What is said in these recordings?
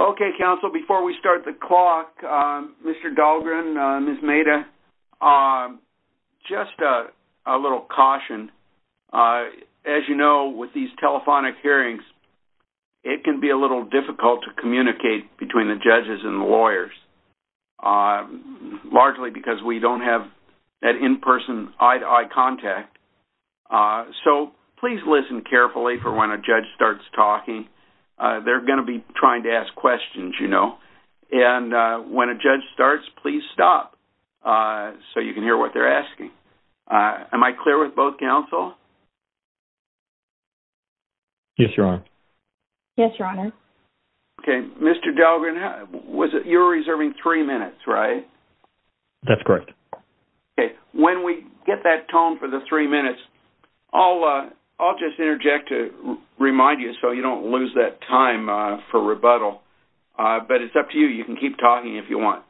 Okay, counsel, before we start the clock, Mr. Dahlgren, Ms. Maida, just a little caution. As you know, with these telephonic hearings, it can be a little difficult to communicate between the judges and the lawyers, largely because we don't have that in-person eye-to-eye contact. So please listen carefully for when a judge starts talking. They're going to be trying to ask questions, you know. And when a judge starts, please stop so you can hear what they're asking. Am I clear with both counsel? Yes, Your Honor. Yes, Your Honor. Okay, Mr. Dahlgren, you're reserving three minutes, right? That's correct. Okay, when we get that tone for the three minutes, I'll just interject to remind you so you don't lose that time for rebuttal. But it's up to you. You can keep talking if you want.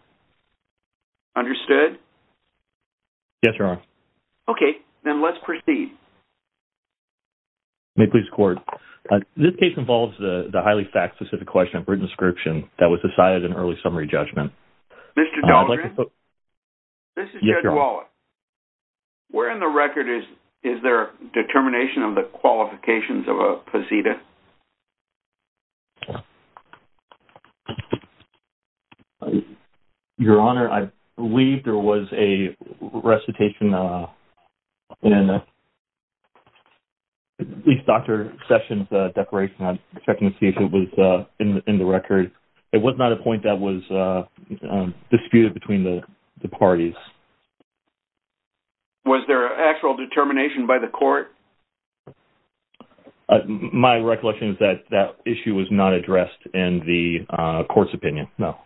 Understood? Yes, Your Honor. Okay, then let's proceed. May it please the Court. This case involves the highly fact-specific question of written description that was decided in early summary judgment. Mr. Dahlgren? Yes, Your Honor. This is Jed Wallace. Where in the record is there a determination of the qualifications of a posita? Your Honor, I believe there was a recitation in at least Dr. Sessions' declaration. I'm checking to see if it was in the record. It was not a point that was disputed between the parties. Was there an actual determination by the Court? My recollection is that that issue was not addressed in the Court's opinion, no.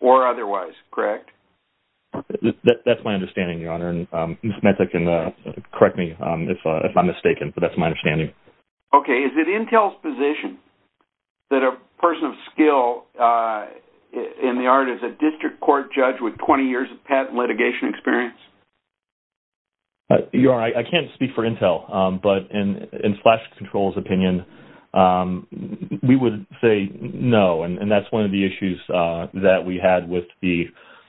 Or otherwise, correct? That's my understanding, Your Honor. And Ms. Metzler can correct me if I'm mistaken, but that's my understanding. Okay, is it Intel's position that a person of skill in the art is a district court judge with 20 years of patent litigation experience? Your Honor, I can't speak for Intel, but in Flash Control's opinion, we would say no. And that's one of the issues that we had with the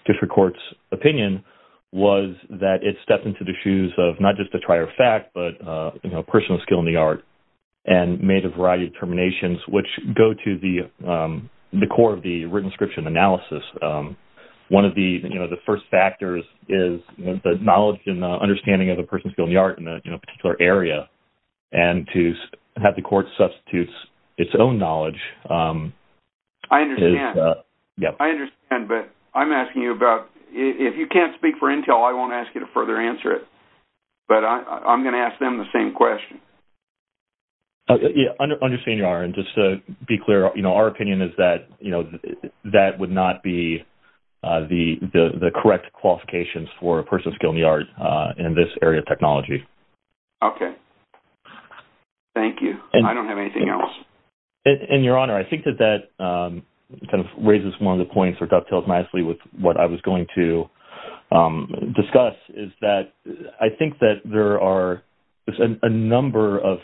district court's opinion was that it stepped into the shoes of not just a trier of fact, but a person of skill in the art, and made a variety of determinations which go to the core of the written inscription analysis. One of the first factors is the knowledge and understanding of a person of skill in the art in a particular area. And to have the Court substitute its own knowledge is- I understand. Yeah. I understand, but I'm asking you about-if you can't speak for Intel, I won't ask you to further answer it. But I'm going to ask them the same question. I understand, Your Honor. And just to be clear, our opinion is that that would not be the correct qualifications for a person of skill in the art in this area of technology. Okay. Thank you. I don't have anything else. And, Your Honor, I think that that kind of raises one of the points or dovetails nicely with what I was going to discuss, is that I think that there are a number of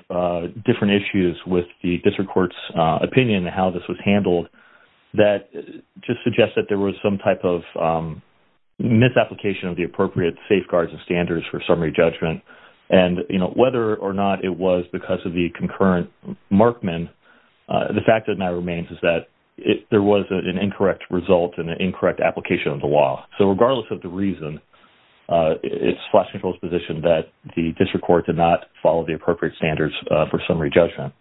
different issues with the district court's opinion on how this was handled that just suggests that there was some type of misapplication of the appropriate safeguards and standards for summary judgment. And, you know, whether or not it was because of the concurrent markman, the fact that now remains is that there was an incorrect result and an incorrect application of the law. So regardless of the reason, it's flexible as position that the district court did not follow the appropriate standards for summary judgment.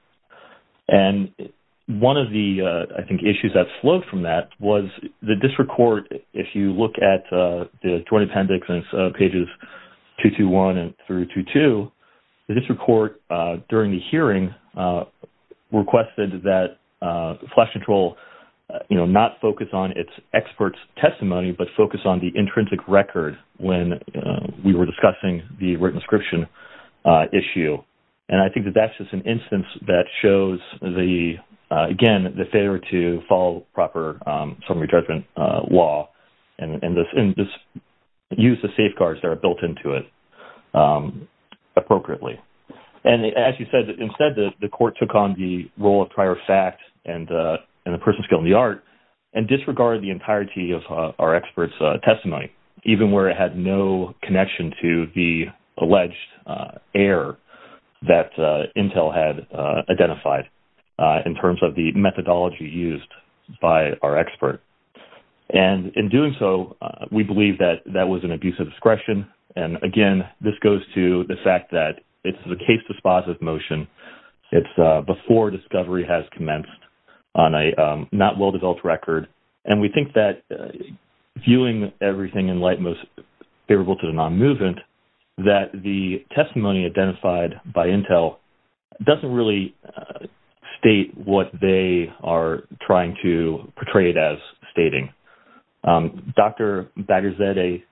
And one of the, I think, issues that flowed from that was the district court, if you look at the Joint Appendix on pages 221 through 222, the district court during the hearing requested that flash control, you know, not focus on its experts' testimony, but focus on the intrinsic record when we were discussing the written inscription issue. And I think that that's just an instance that shows the, again, the failure to follow proper summary judgment law and use the safeguards that are built into it appropriately. And as you said, instead the court took on the role of prior fact and the person's skill in the art and disregarded the entirety of our experts' testimony, even where it had no connection to the alleged error that Intel had identified in terms of the methodology used by our expert. And in doing so, we believe that that was an abuse of discretion. And, again, this goes to the fact that it's a case dispositive motion. It's before discovery has commenced on a not well-developed record. And we think that viewing everything in light most favorable to the non-movement, that the testimony identified by Intel doesn't really state what they are trying to portray it as stating. Dr. Bagherzadeh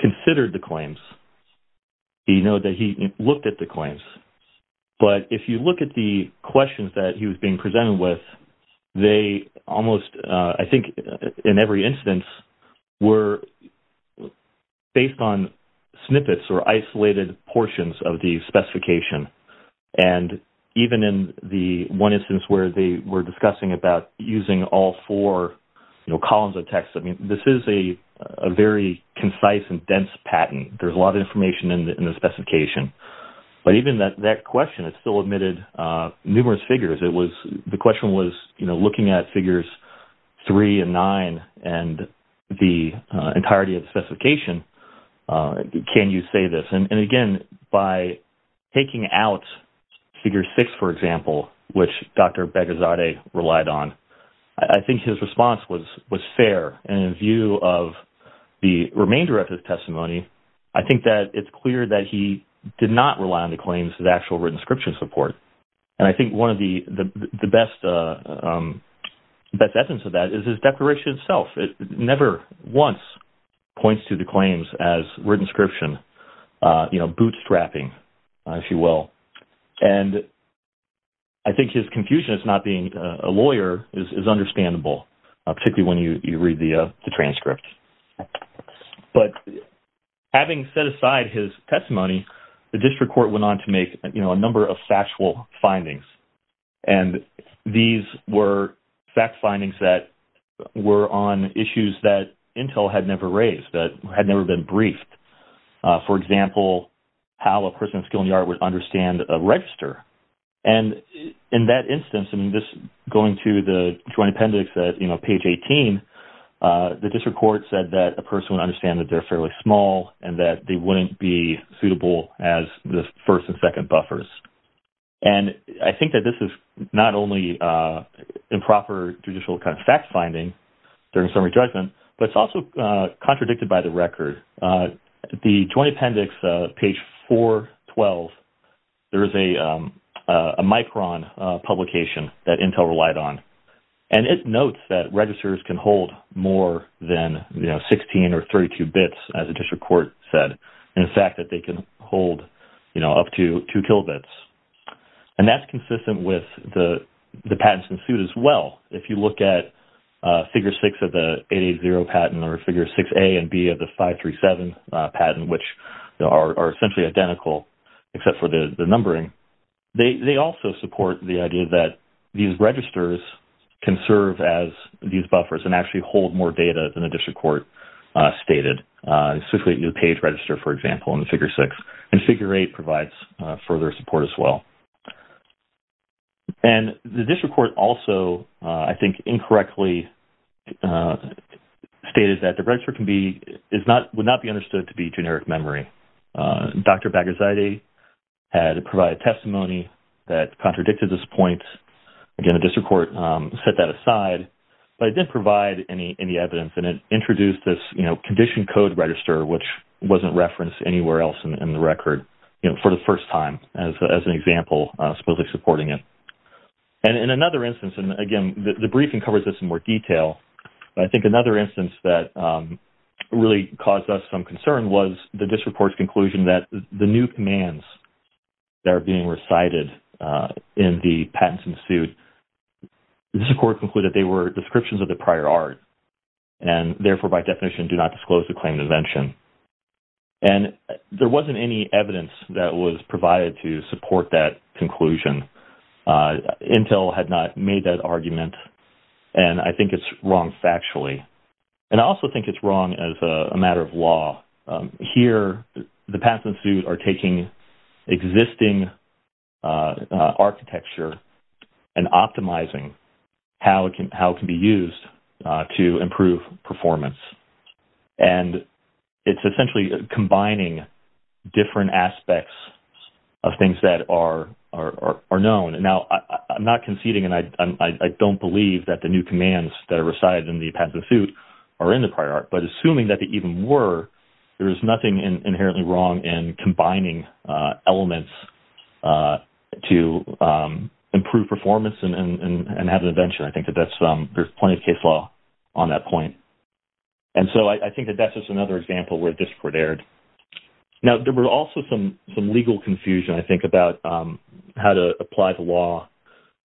considered the claims. He noted that he looked at the claims. But if you look at the questions that he was being presented with, they almost I think in every instance were based on snippets or isolated portions of the specification. And even in the one instance where they were discussing about using all four columns of text, I mean, this is a very concise and dense patent. There's a lot of information in the specification. But even that question, it still admitted numerous figures. The question was looking at figures three and nine and the entirety of the specification, can you say this? And, again, by taking out figure six, for example, which Dr. Bagherzadeh relied on, I think his response was fair. And in view of the remainder of his testimony, I think that it's clear that he did not rely on the claims as actual written inscription support. And I think one of the best evidence of that is his declaration itself. It never once points to the claims as written inscription, you know, bootstrapping, if you will. And I think his confusion as not being a lawyer is understandable, particularly when you read the transcript. But having set aside his testimony, the district court went on to make, you know, a number of factual findings. And these were fact findings that were on issues that Intel had never raised, that had never been briefed. For example, how a person with a skill in the art would understand a register. And in that instance, I mean, just going to the joint appendix at, you know, page 18, the district court said that a person would understand that they're fairly small and that they wouldn't be suitable as the first and second buffers. And I think that this is not only improper judicial kind of fact finding during summary judgment, but it's also contradicted by the record. The joint appendix, page 412, there is a Micron publication that Intel relied on. And it notes that registers can hold more than, you know, 16 or 32 bits, as the district court said. In fact, that they can hold, you know, up to 2 kilobits. And that's consistent with the patents ensued as well. If you look at figure 6 of the 880 patent or figure 6A and B of the 537 patent, which are essentially identical except for the numbering, they also support the idea that these registers can serve as these buffers and actually hold more data than the district court stated. Specifically, the page register, for example, in the figure 6. And figure 8 provides further support as well. And the district court also, I think, incorrectly stated that the register would not be understood to be generic memory. Dr. Bagherzadeh had provided testimony that contradicted this point. Again, the district court set that aside, but it didn't provide any evidence. And it introduced this, you know, condition code register, which wasn't referenced anywhere else in the record, you know, for the first time as an example, supposedly supporting it. And in another instance, and again, the briefing covers this in more detail, but I think another instance that really caused us some concern was the district court's conclusion that the new commands that are being recited in the patents ensued, the district court concluded they were descriptions of the prior art and therefore, by definition, do not disclose the claim of invention. And there wasn't any evidence that was provided to support that conclusion. Intel had not made that argument, and I think it's wrong factually. And I also think it's wrong as a matter of law. Here, the patents ensued are taking existing architecture and optimizing how it can be used to improve performance. And it's essentially combining different aspects of things that are known. Now, I'm not conceding, and I don't believe that the new commands that are recited in the patents ensued are in the prior art, but assuming that they even were, there is nothing inherently wrong in combining elements to improve performance and have an invention. I think that there's plenty of case law on that point. And so I think that that's just another example where the district court erred. Now, there were also some legal confusion, I think, about how to apply the law.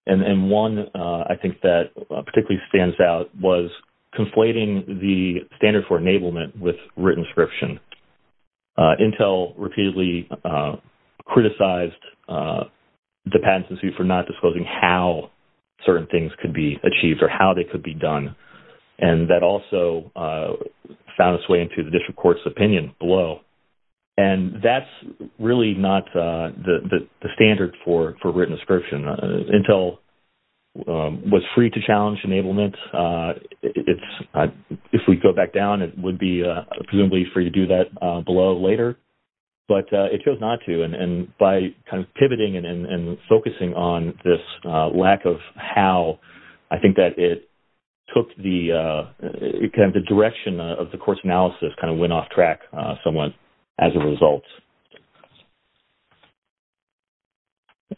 And one, I think, that particularly stands out was conflating the standard for enablement with written inscription. Intel repeatedly criticized the patents ensued for not disclosing how certain things could be achieved or how they could be done. And that also found its way into the district court's opinion below. And that's really not the standard for written inscription. Intel was free to challenge enablement. If we go back down, it would be presumably free to do that below later, but it chose not to. And by pivoting and focusing on this lack of how, I think that it took the direction of the court's analysis, kind of went off track somewhat as a result.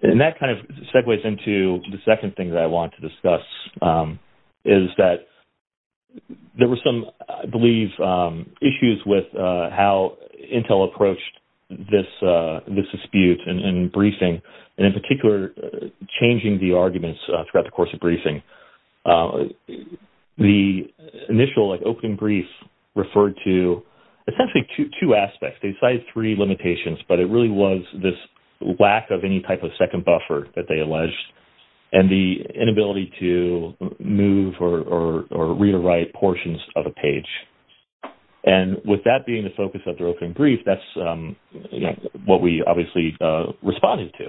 And that kind of segues into the second thing that I want to discuss is that there were some, I believe, issues with how Intel approached this dispute in briefing, and in particular, changing the arguments throughout the course of briefing. The initial open brief referred to essentially two aspects. They cited three limitations, but it really was this lack of any type of second buffer that they alleged, and the inability to move or read or write portions of a page. And with that being the focus of the open brief, that's what we obviously responded to.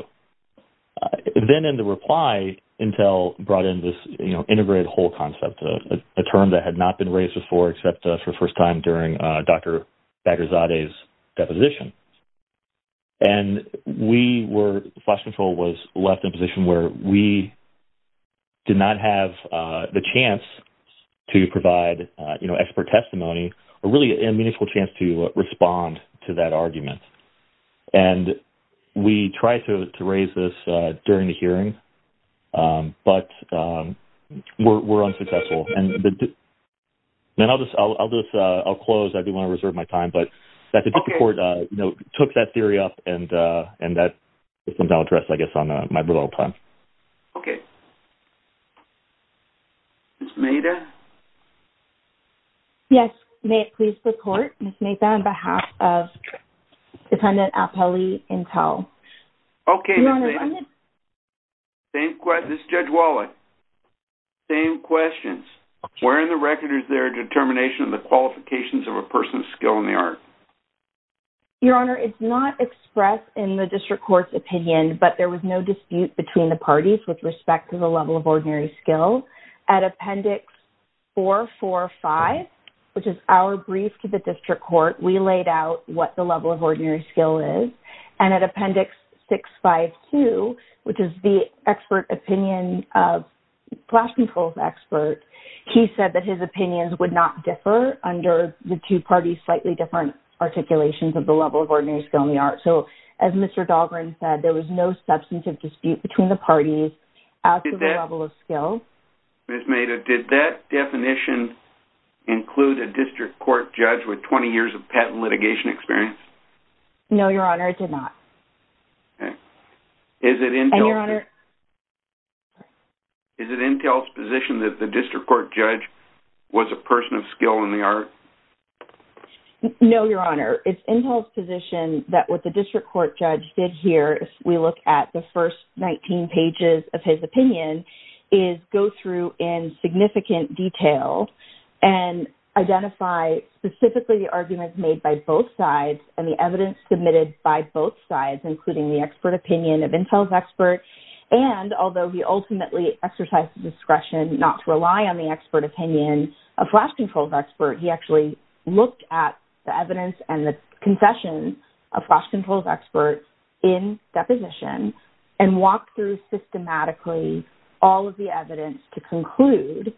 Then in the reply, Intel brought in this integrated whole concept, a term that had not been raised before except for the first time during Dr. Bagherzadeh's deposition. And Flash Control was left in a position where we did not have the chance to provide expert testimony, or really a meaningful chance to respond to that argument. And we tried to raise this during the hearing, but were unsuccessful. I'll close. I do want to reserve my time. But the court took that theory up, and that is now addressed, I guess, on my rebuttal time. Okay. Ms. Maida? Yes, may it please the court, Ms. Maida, on behalf of Dependent Appellee Intel. Okay, Ms. Maida. This is Judge Wallach. Same questions. Where in the record is there a determination of the qualifications of a person's skill in the art? Your Honor, it's not expressed in the district court's opinion, but there was no dispute between the parties with respect to the level of ordinary skill. At Appendix 445, which is our brief to the district court, we laid out what the level of ordinary skill is. And at Appendix 652, which is the expert opinion, Flash Control's expert, he said that his opinions would not differ under the two parties' slightly different articulations of the level of ordinary skill in the art. So, as Mr. Dahlgren said, there was no substantive dispute between the parties as to the level of skill. Ms. Maida, did that definition include a district court judge with 20 years of patent litigation experience? No, Your Honor, it did not. Okay. And, Your Honor... Is it Intel's position that the district court judge was a person of skill in the art? No, Your Honor. It's Intel's position that what the district court judge did here, if we look at the first 19 pages of his opinion, is go through in significant detail and identify specifically the arguments made by both sides and the evidence submitted by both sides, including the expert opinion of Intel's expert, and although he ultimately exercised discretion not to rely on the expert opinion of Flash Control's expert, he actually looked at the evidence and the concessions of Flash Control's expert in deposition and walked through systematically all of the evidence to conclude,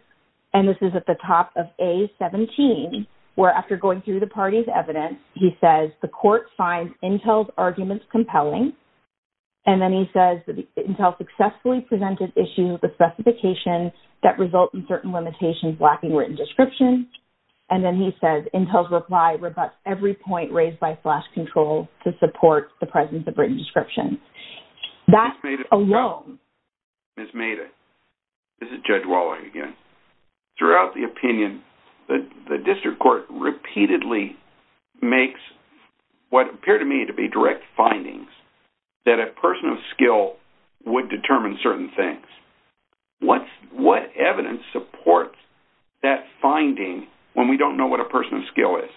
and this is at the top of A17, where after going through the parties' evidence, he says the court finds Intel's arguments compelling, and then he says that Intel successfully presented issues with specifications that result in certain limitations lacking written description, and then he says Intel's reply rebuts every point raised by Flash Control to support the presence of written description. That alone... Ms. Maida, this is Judge Waller again. Throughout the opinion, the district court repeatedly makes what appear to me to be direct findings that a person of skill would determine certain things. What evidence supports that finding when we don't know what a person of skill is?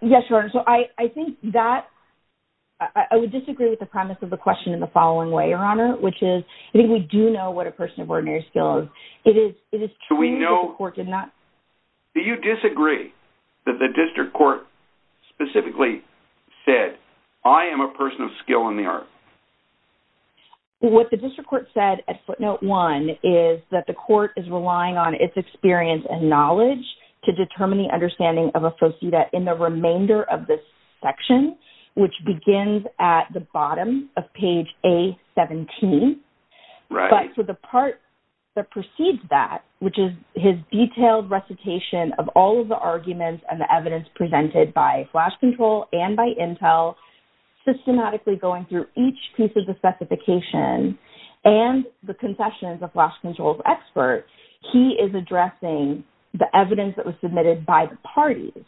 Yes, Your Honor, so I think that... I would disagree with the premise of the question in the following way, Your Honor, which is I think we do know what a person of ordinary skill is. It is true that the court did not... Do you disagree that the district court specifically said, I am a person of skill in the art? What the district court said at footnote one is that the court is relying on its experience and knowledge to determine the understanding of a faux cida in the remainder of this section, which begins at the bottom of page A17. Right. But for the part that precedes that, which is his detailed recitation of all of the arguments and the evidence presented by Flash Control and by Intel, systematically going through each piece of the specification and the concessions of Flash Control's expert, he is addressing the evidence that was submitted by the parties.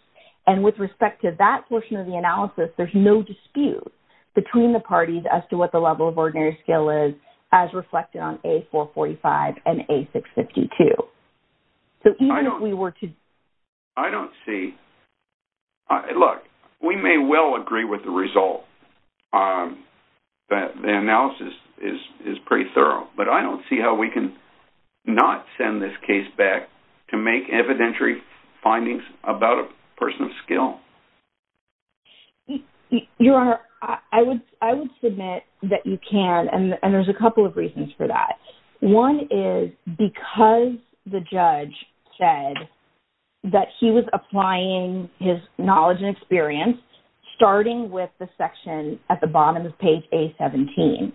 And with respect to that portion of the analysis, there's no dispute between the parties as to what the level of ordinary skill is as reflected on A445 and A652. So even if we were to... I don't see... Look, we may well agree with the result. The analysis is pretty thorough. But I don't see how we can not send this case back to make evidentiary findings about a person of skill. Your Honor, I would submit that you can, and there's a couple of reasons for that. One is because the judge said that he was applying his knowledge and experience, starting with the section at the bottom of page A17.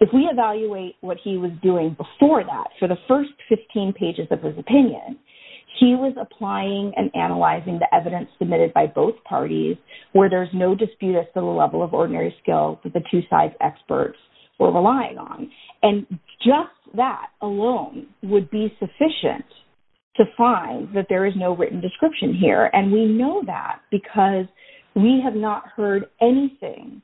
If we evaluate what he was doing before that, for the first 15 pages of his opinion, he was applying and analyzing the evidence submitted by both parties where there's no dispute as to the level of ordinary skill that the two side experts were relying on. And just that alone would be sufficient to find that there is no written description here. And we know that because we have not heard anything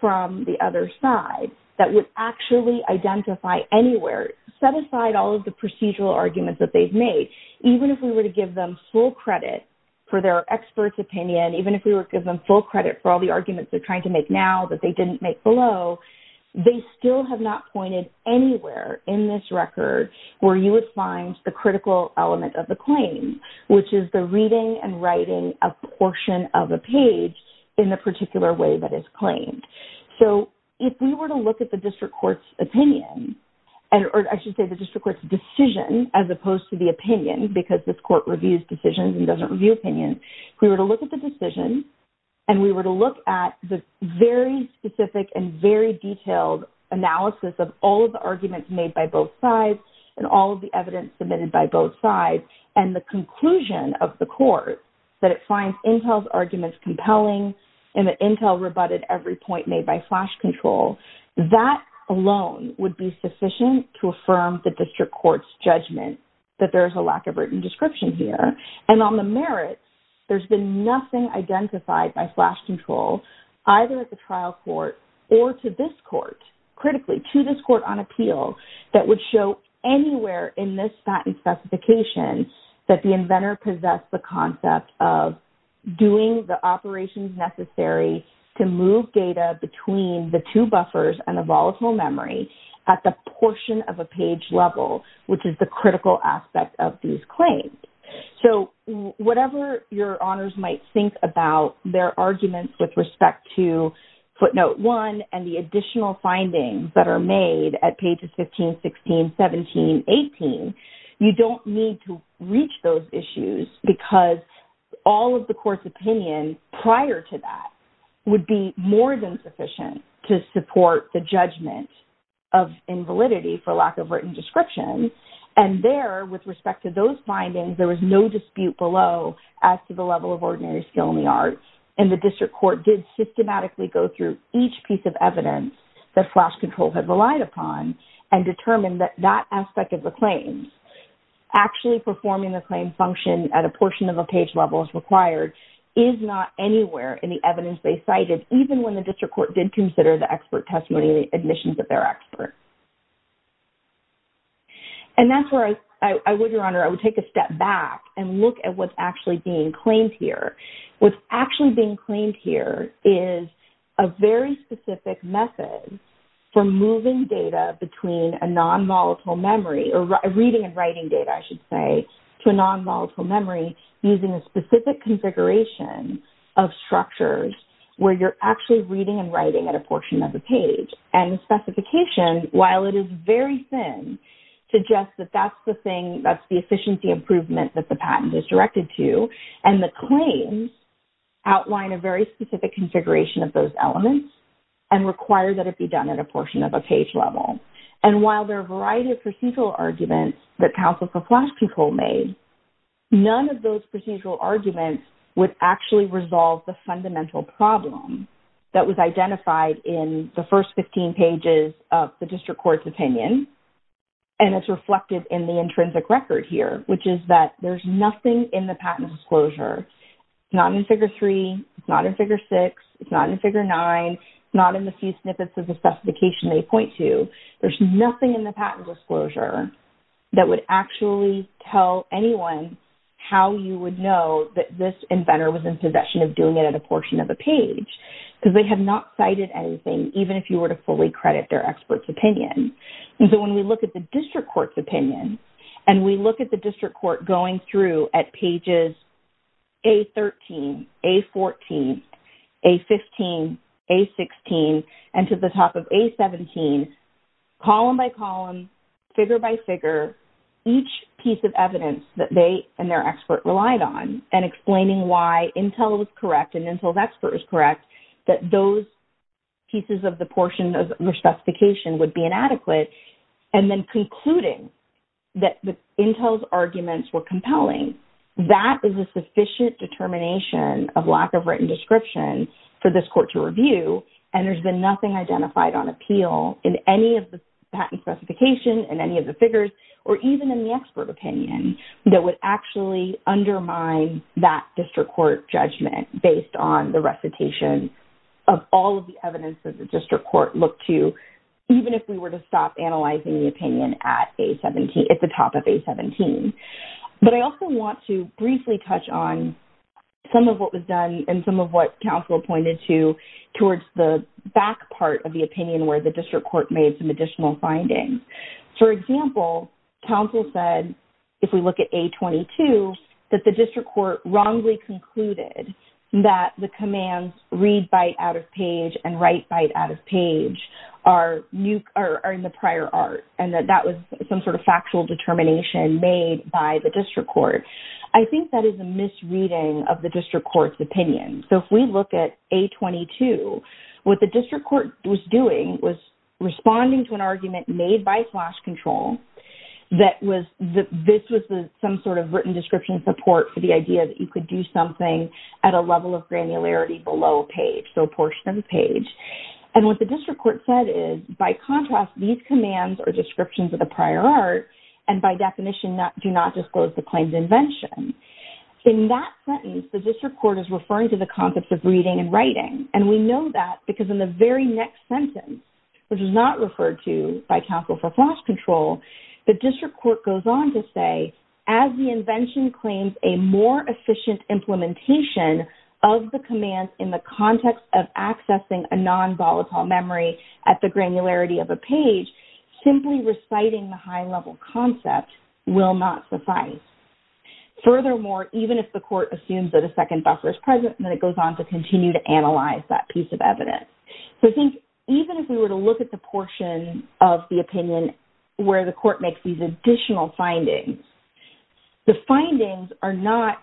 from the other side that would actually identify anywhere, set aside all of the procedural arguments that they've made, even if we were to give them full credit for their expert's opinion, even if we were to give them full credit for all the arguments they're trying to make now that they didn't make below, they still have not pointed anywhere in this record where you would find the critical element of the claim, which is the reading and writing of a portion of a page in the particular way that it's claimed. So if we were to look at the district court's opinion, or I should say the district court's decision as opposed to the opinion, because this court reviews decisions and doesn't review opinions, if we were to look at the decision and we were to look at the very specific and very detailed analysis of all of the arguments made by both sides and all of the evidence submitted by both sides and the conclusion of the court that it finds Intel's arguments compelling and that Intel rebutted every point made by flash control, that alone would be sufficient to affirm the district court's judgment that there is a lack of written description here. And on the merits, there's been nothing identified by flash control, either at the trial court or to this court, critically to this court on appeal, that would show anywhere in this patent specification that the inventor possessed the concept of doing the operations necessary to move data between the two buffers and the volatile memory at the portion of a page level, which is the critical aspect of these claims. So whatever your honors might think about their arguments with respect to footnote one and the additional findings that are made at pages 15, 16, 17, 18, you don't need to reach those issues because all of the court's opinion prior to that would be more than sufficient to support the judgment of invalidity for lack of written description. And there, with respect to those findings, there was no dispute below as to the level of ordinary skill in the arts. And the district court did systematically go through each piece of evidence that flash control had relied upon and determined that that aspect of the claims, actually performing the claim function at a portion of a page level as required, is not anywhere in the evidence they cited, even when the district court did consider the expert testimony and the admissions of their expert. And that's where I would, Your Honor, I would take a step back and look at what's actually being claimed here. What's actually being claimed here is a very specific method for moving data between a non-molecule memory, or reading and writing data, I should say, to a non-molecule memory using a specific configuration of structures where you're actually reading and writing at a portion of the page. And the specification, while it is very thin, suggests that that's the thing, that's the efficiency improvement that the patent is directed to. And the claims outline a very specific configuration of those elements and require that it be done at a portion of a page level. And while there are a variety of procedural arguments that counsel for flash control made, none of those procedural arguments would actually resolve the fundamental problem that was identified in the first 15 pages of the district court's opinion. And it's reflected in the intrinsic record here, which is that there's nothing in the patent disclosure, not in Figure 3, not in Figure 6, it's not in Figure 9, not in the few snippets of the specification they point to. There's nothing in the patent disclosure that would actually tell anyone how you would know that this inventor was in possession of doing it at a portion of a page, because they have not cited anything, even if you were to fully credit their expert's opinion. And so when we look at the district court's opinion and we look at the district court going through at pages A13, A14, A15, A16, and to the top of A17, column by column, figure by figure, each piece of evidence that they and their expert relied on and explaining why Intel was correct and Intel's expert was correct, that those pieces of the portion of the specification would be inadequate, and then concluding that Intel's arguments were compelling, that is a sufficient determination of lack of written description for this court to review, and there's been nothing identified on appeal in any of the patent specification and any of the figures, or even in the expert opinion, that would actually undermine that district court judgment based on the recitation of all of the evidence that the district court looked to, even if we were to stop analyzing the opinion at the top of A17. But I also want to briefly touch on some of what was done and some of what counsel pointed to towards the back part of the opinion where the district court made some additional findings. For example, counsel said, if we look at A22, that the district court wrongly concluded that the commands read byte out of page and write byte out of page are in the prior art and that that was some sort of factual determination made by the district court. I think that is a misreading of the district court's opinion. So if we look at A22, what the district court was doing was responding to an argument made by flash control that this was some sort of written description support for the idea that you could do something at a level of granularity below a page, so a portion of the page. And what the district court said is, by contrast, these commands are descriptions of the prior art and by definition do not disclose the claim's invention. In that sentence, the district court is referring to the concepts of reading and writing, and we know that because in the very next sentence, which is not referred to by counsel for flash control, the district court goes on to say, as the invention claims a more efficient implementation of the commands in the context of accessing a non-volatile memory at the granularity of a page, simply reciting the high-level concept will not suffice. Furthermore, even if the court assumes that a second buffer is present, then it goes on to continue to analyze that piece of evidence. So I think even if we were to look at the portion of the opinion where the court makes these additional findings, the findings are not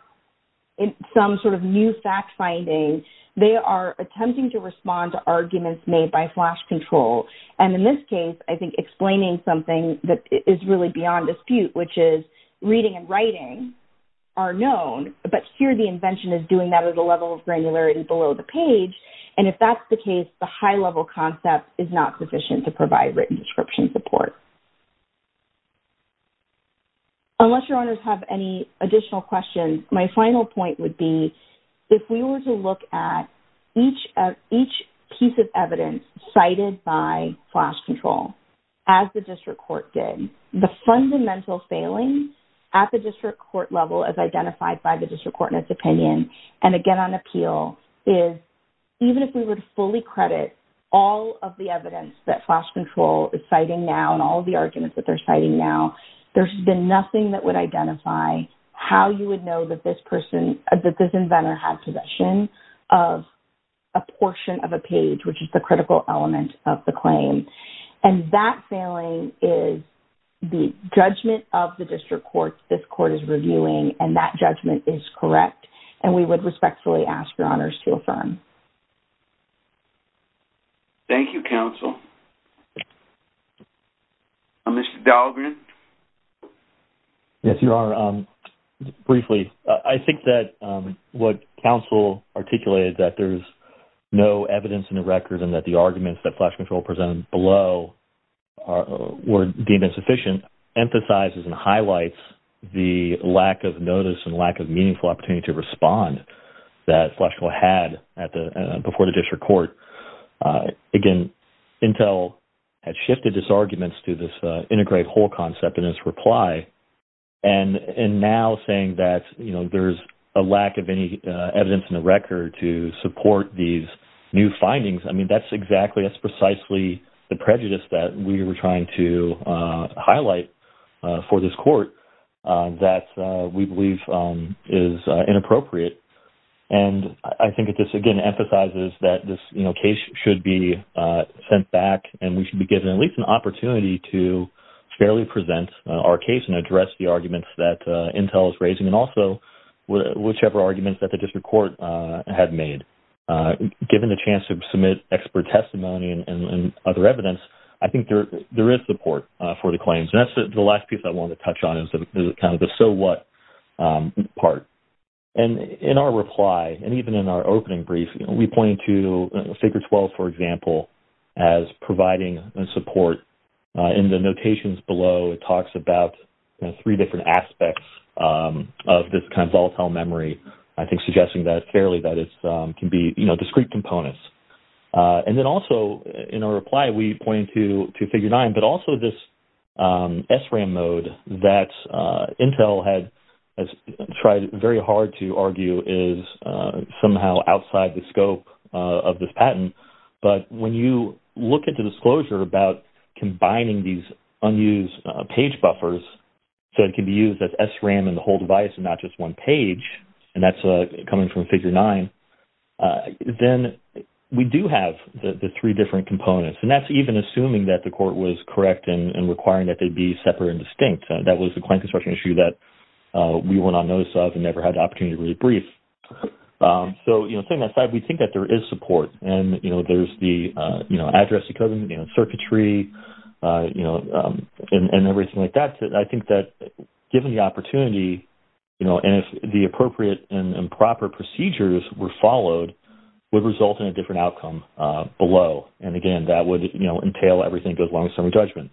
some sort of new fact finding. They are attempting to respond to arguments made by flash control. And in this case, I think explaining something that is really beyond dispute, which is reading and writing are known, but here the invention is doing that at a level of granularity below the page, and if that's the case, the high-level concept is not sufficient to provide written description support. Unless your owners have any additional questions, my final point would be if we were to look at each piece of evidence cited by flash control as the district court did, the fundamental failing at the district court level as identified by the district court in its opinion, and again on appeal, is even if we were to fully credit all of the evidence that flash control is citing now and all of the arguments that they're citing now, there's been nothing that would identify how you would know that this person, that this inventor had possession of a portion of a page, which is the critical element of the claim. And that failing is the judgment of the district court, this court is reviewing, and that judgment is correct, and we would respectfully ask your owners to affirm. Thank you, counsel. Mr. Dahlgren? Yes, Your Honor. Briefly, I think that what counsel articulated, that there's no evidence in the records and that the arguments that flash control presented below were deemed insufficient, emphasizes and highlights the lack of notice and lack of meaningful opportunity to respond that flash control had before the district court. Again, Intel had shifted its arguments to this integrated whole concept in its reply, and now saying that there's a lack of any evidence in the record to support these new findings, I mean, that's exactly, that's precisely the prejudice that we were trying to highlight for this court that we believe is inappropriate. And I think that this, again, emphasizes that this case should be sent back and we should be given at least an opportunity to fairly present our case and address the arguments that Intel is raising, and also whichever arguments that the district court had made. Given the chance to submit expert testimony and other evidence, I think there is support for the claims. And that's the last piece I wanted to touch on is kind of the so what part. And in our reply, and even in our opening brief, we point to SACRED-12, for example, as providing support. In the notations below, it talks about three different aspects of this kind of volatile memory, I think suggesting fairly that it can be discrete components. And then also, in our reply, we point to Figure 9, but also this SRAM mode that Intel had tried very hard to argue is somehow outside the scope of this patent. But when you look at the disclosure about combining these unused page buffers so it can be used as SRAM in the whole device and not just one page, and that's coming from Figure 9, then we do have the three different components. And that's even assuming that the court was correct and requiring that they be separate and distinct. That was a client construction issue that we went on notice of and never had the opportunity to really brief. So, setting that aside, we think that there is support. And there's the address decoding, the circuitry, and everything like that. I think that, given the opportunity, and if the appropriate and proper procedures were followed, would result in a different outcome below. And, again, that would entail everything that goes along with summary judgment.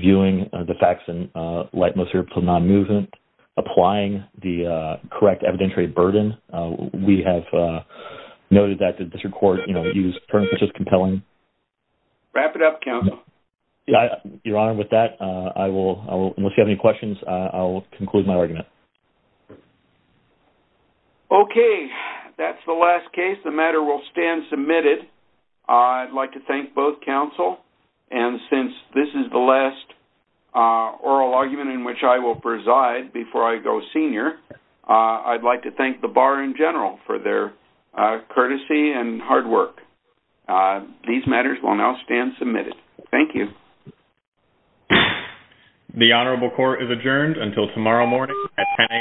Viewing the facts and lightness or non-movement. Applying the correct evidentiary burden. We have noted that the district court used terms such as compelling. Wrap it up, counsel. Your Honor, with that, unless you have any questions, I'll conclude my argument. Okay, that's the last case. The matter will stand submitted. I'd like to thank both counsel. And since this is the last oral argument in which I will preside before I go senior, I'd like to thank the bar in general for their courtesy and hard work. These matters will now stand submitted. Thank you. The Honorable Court is adjourned until tomorrow morning at 10 a.m.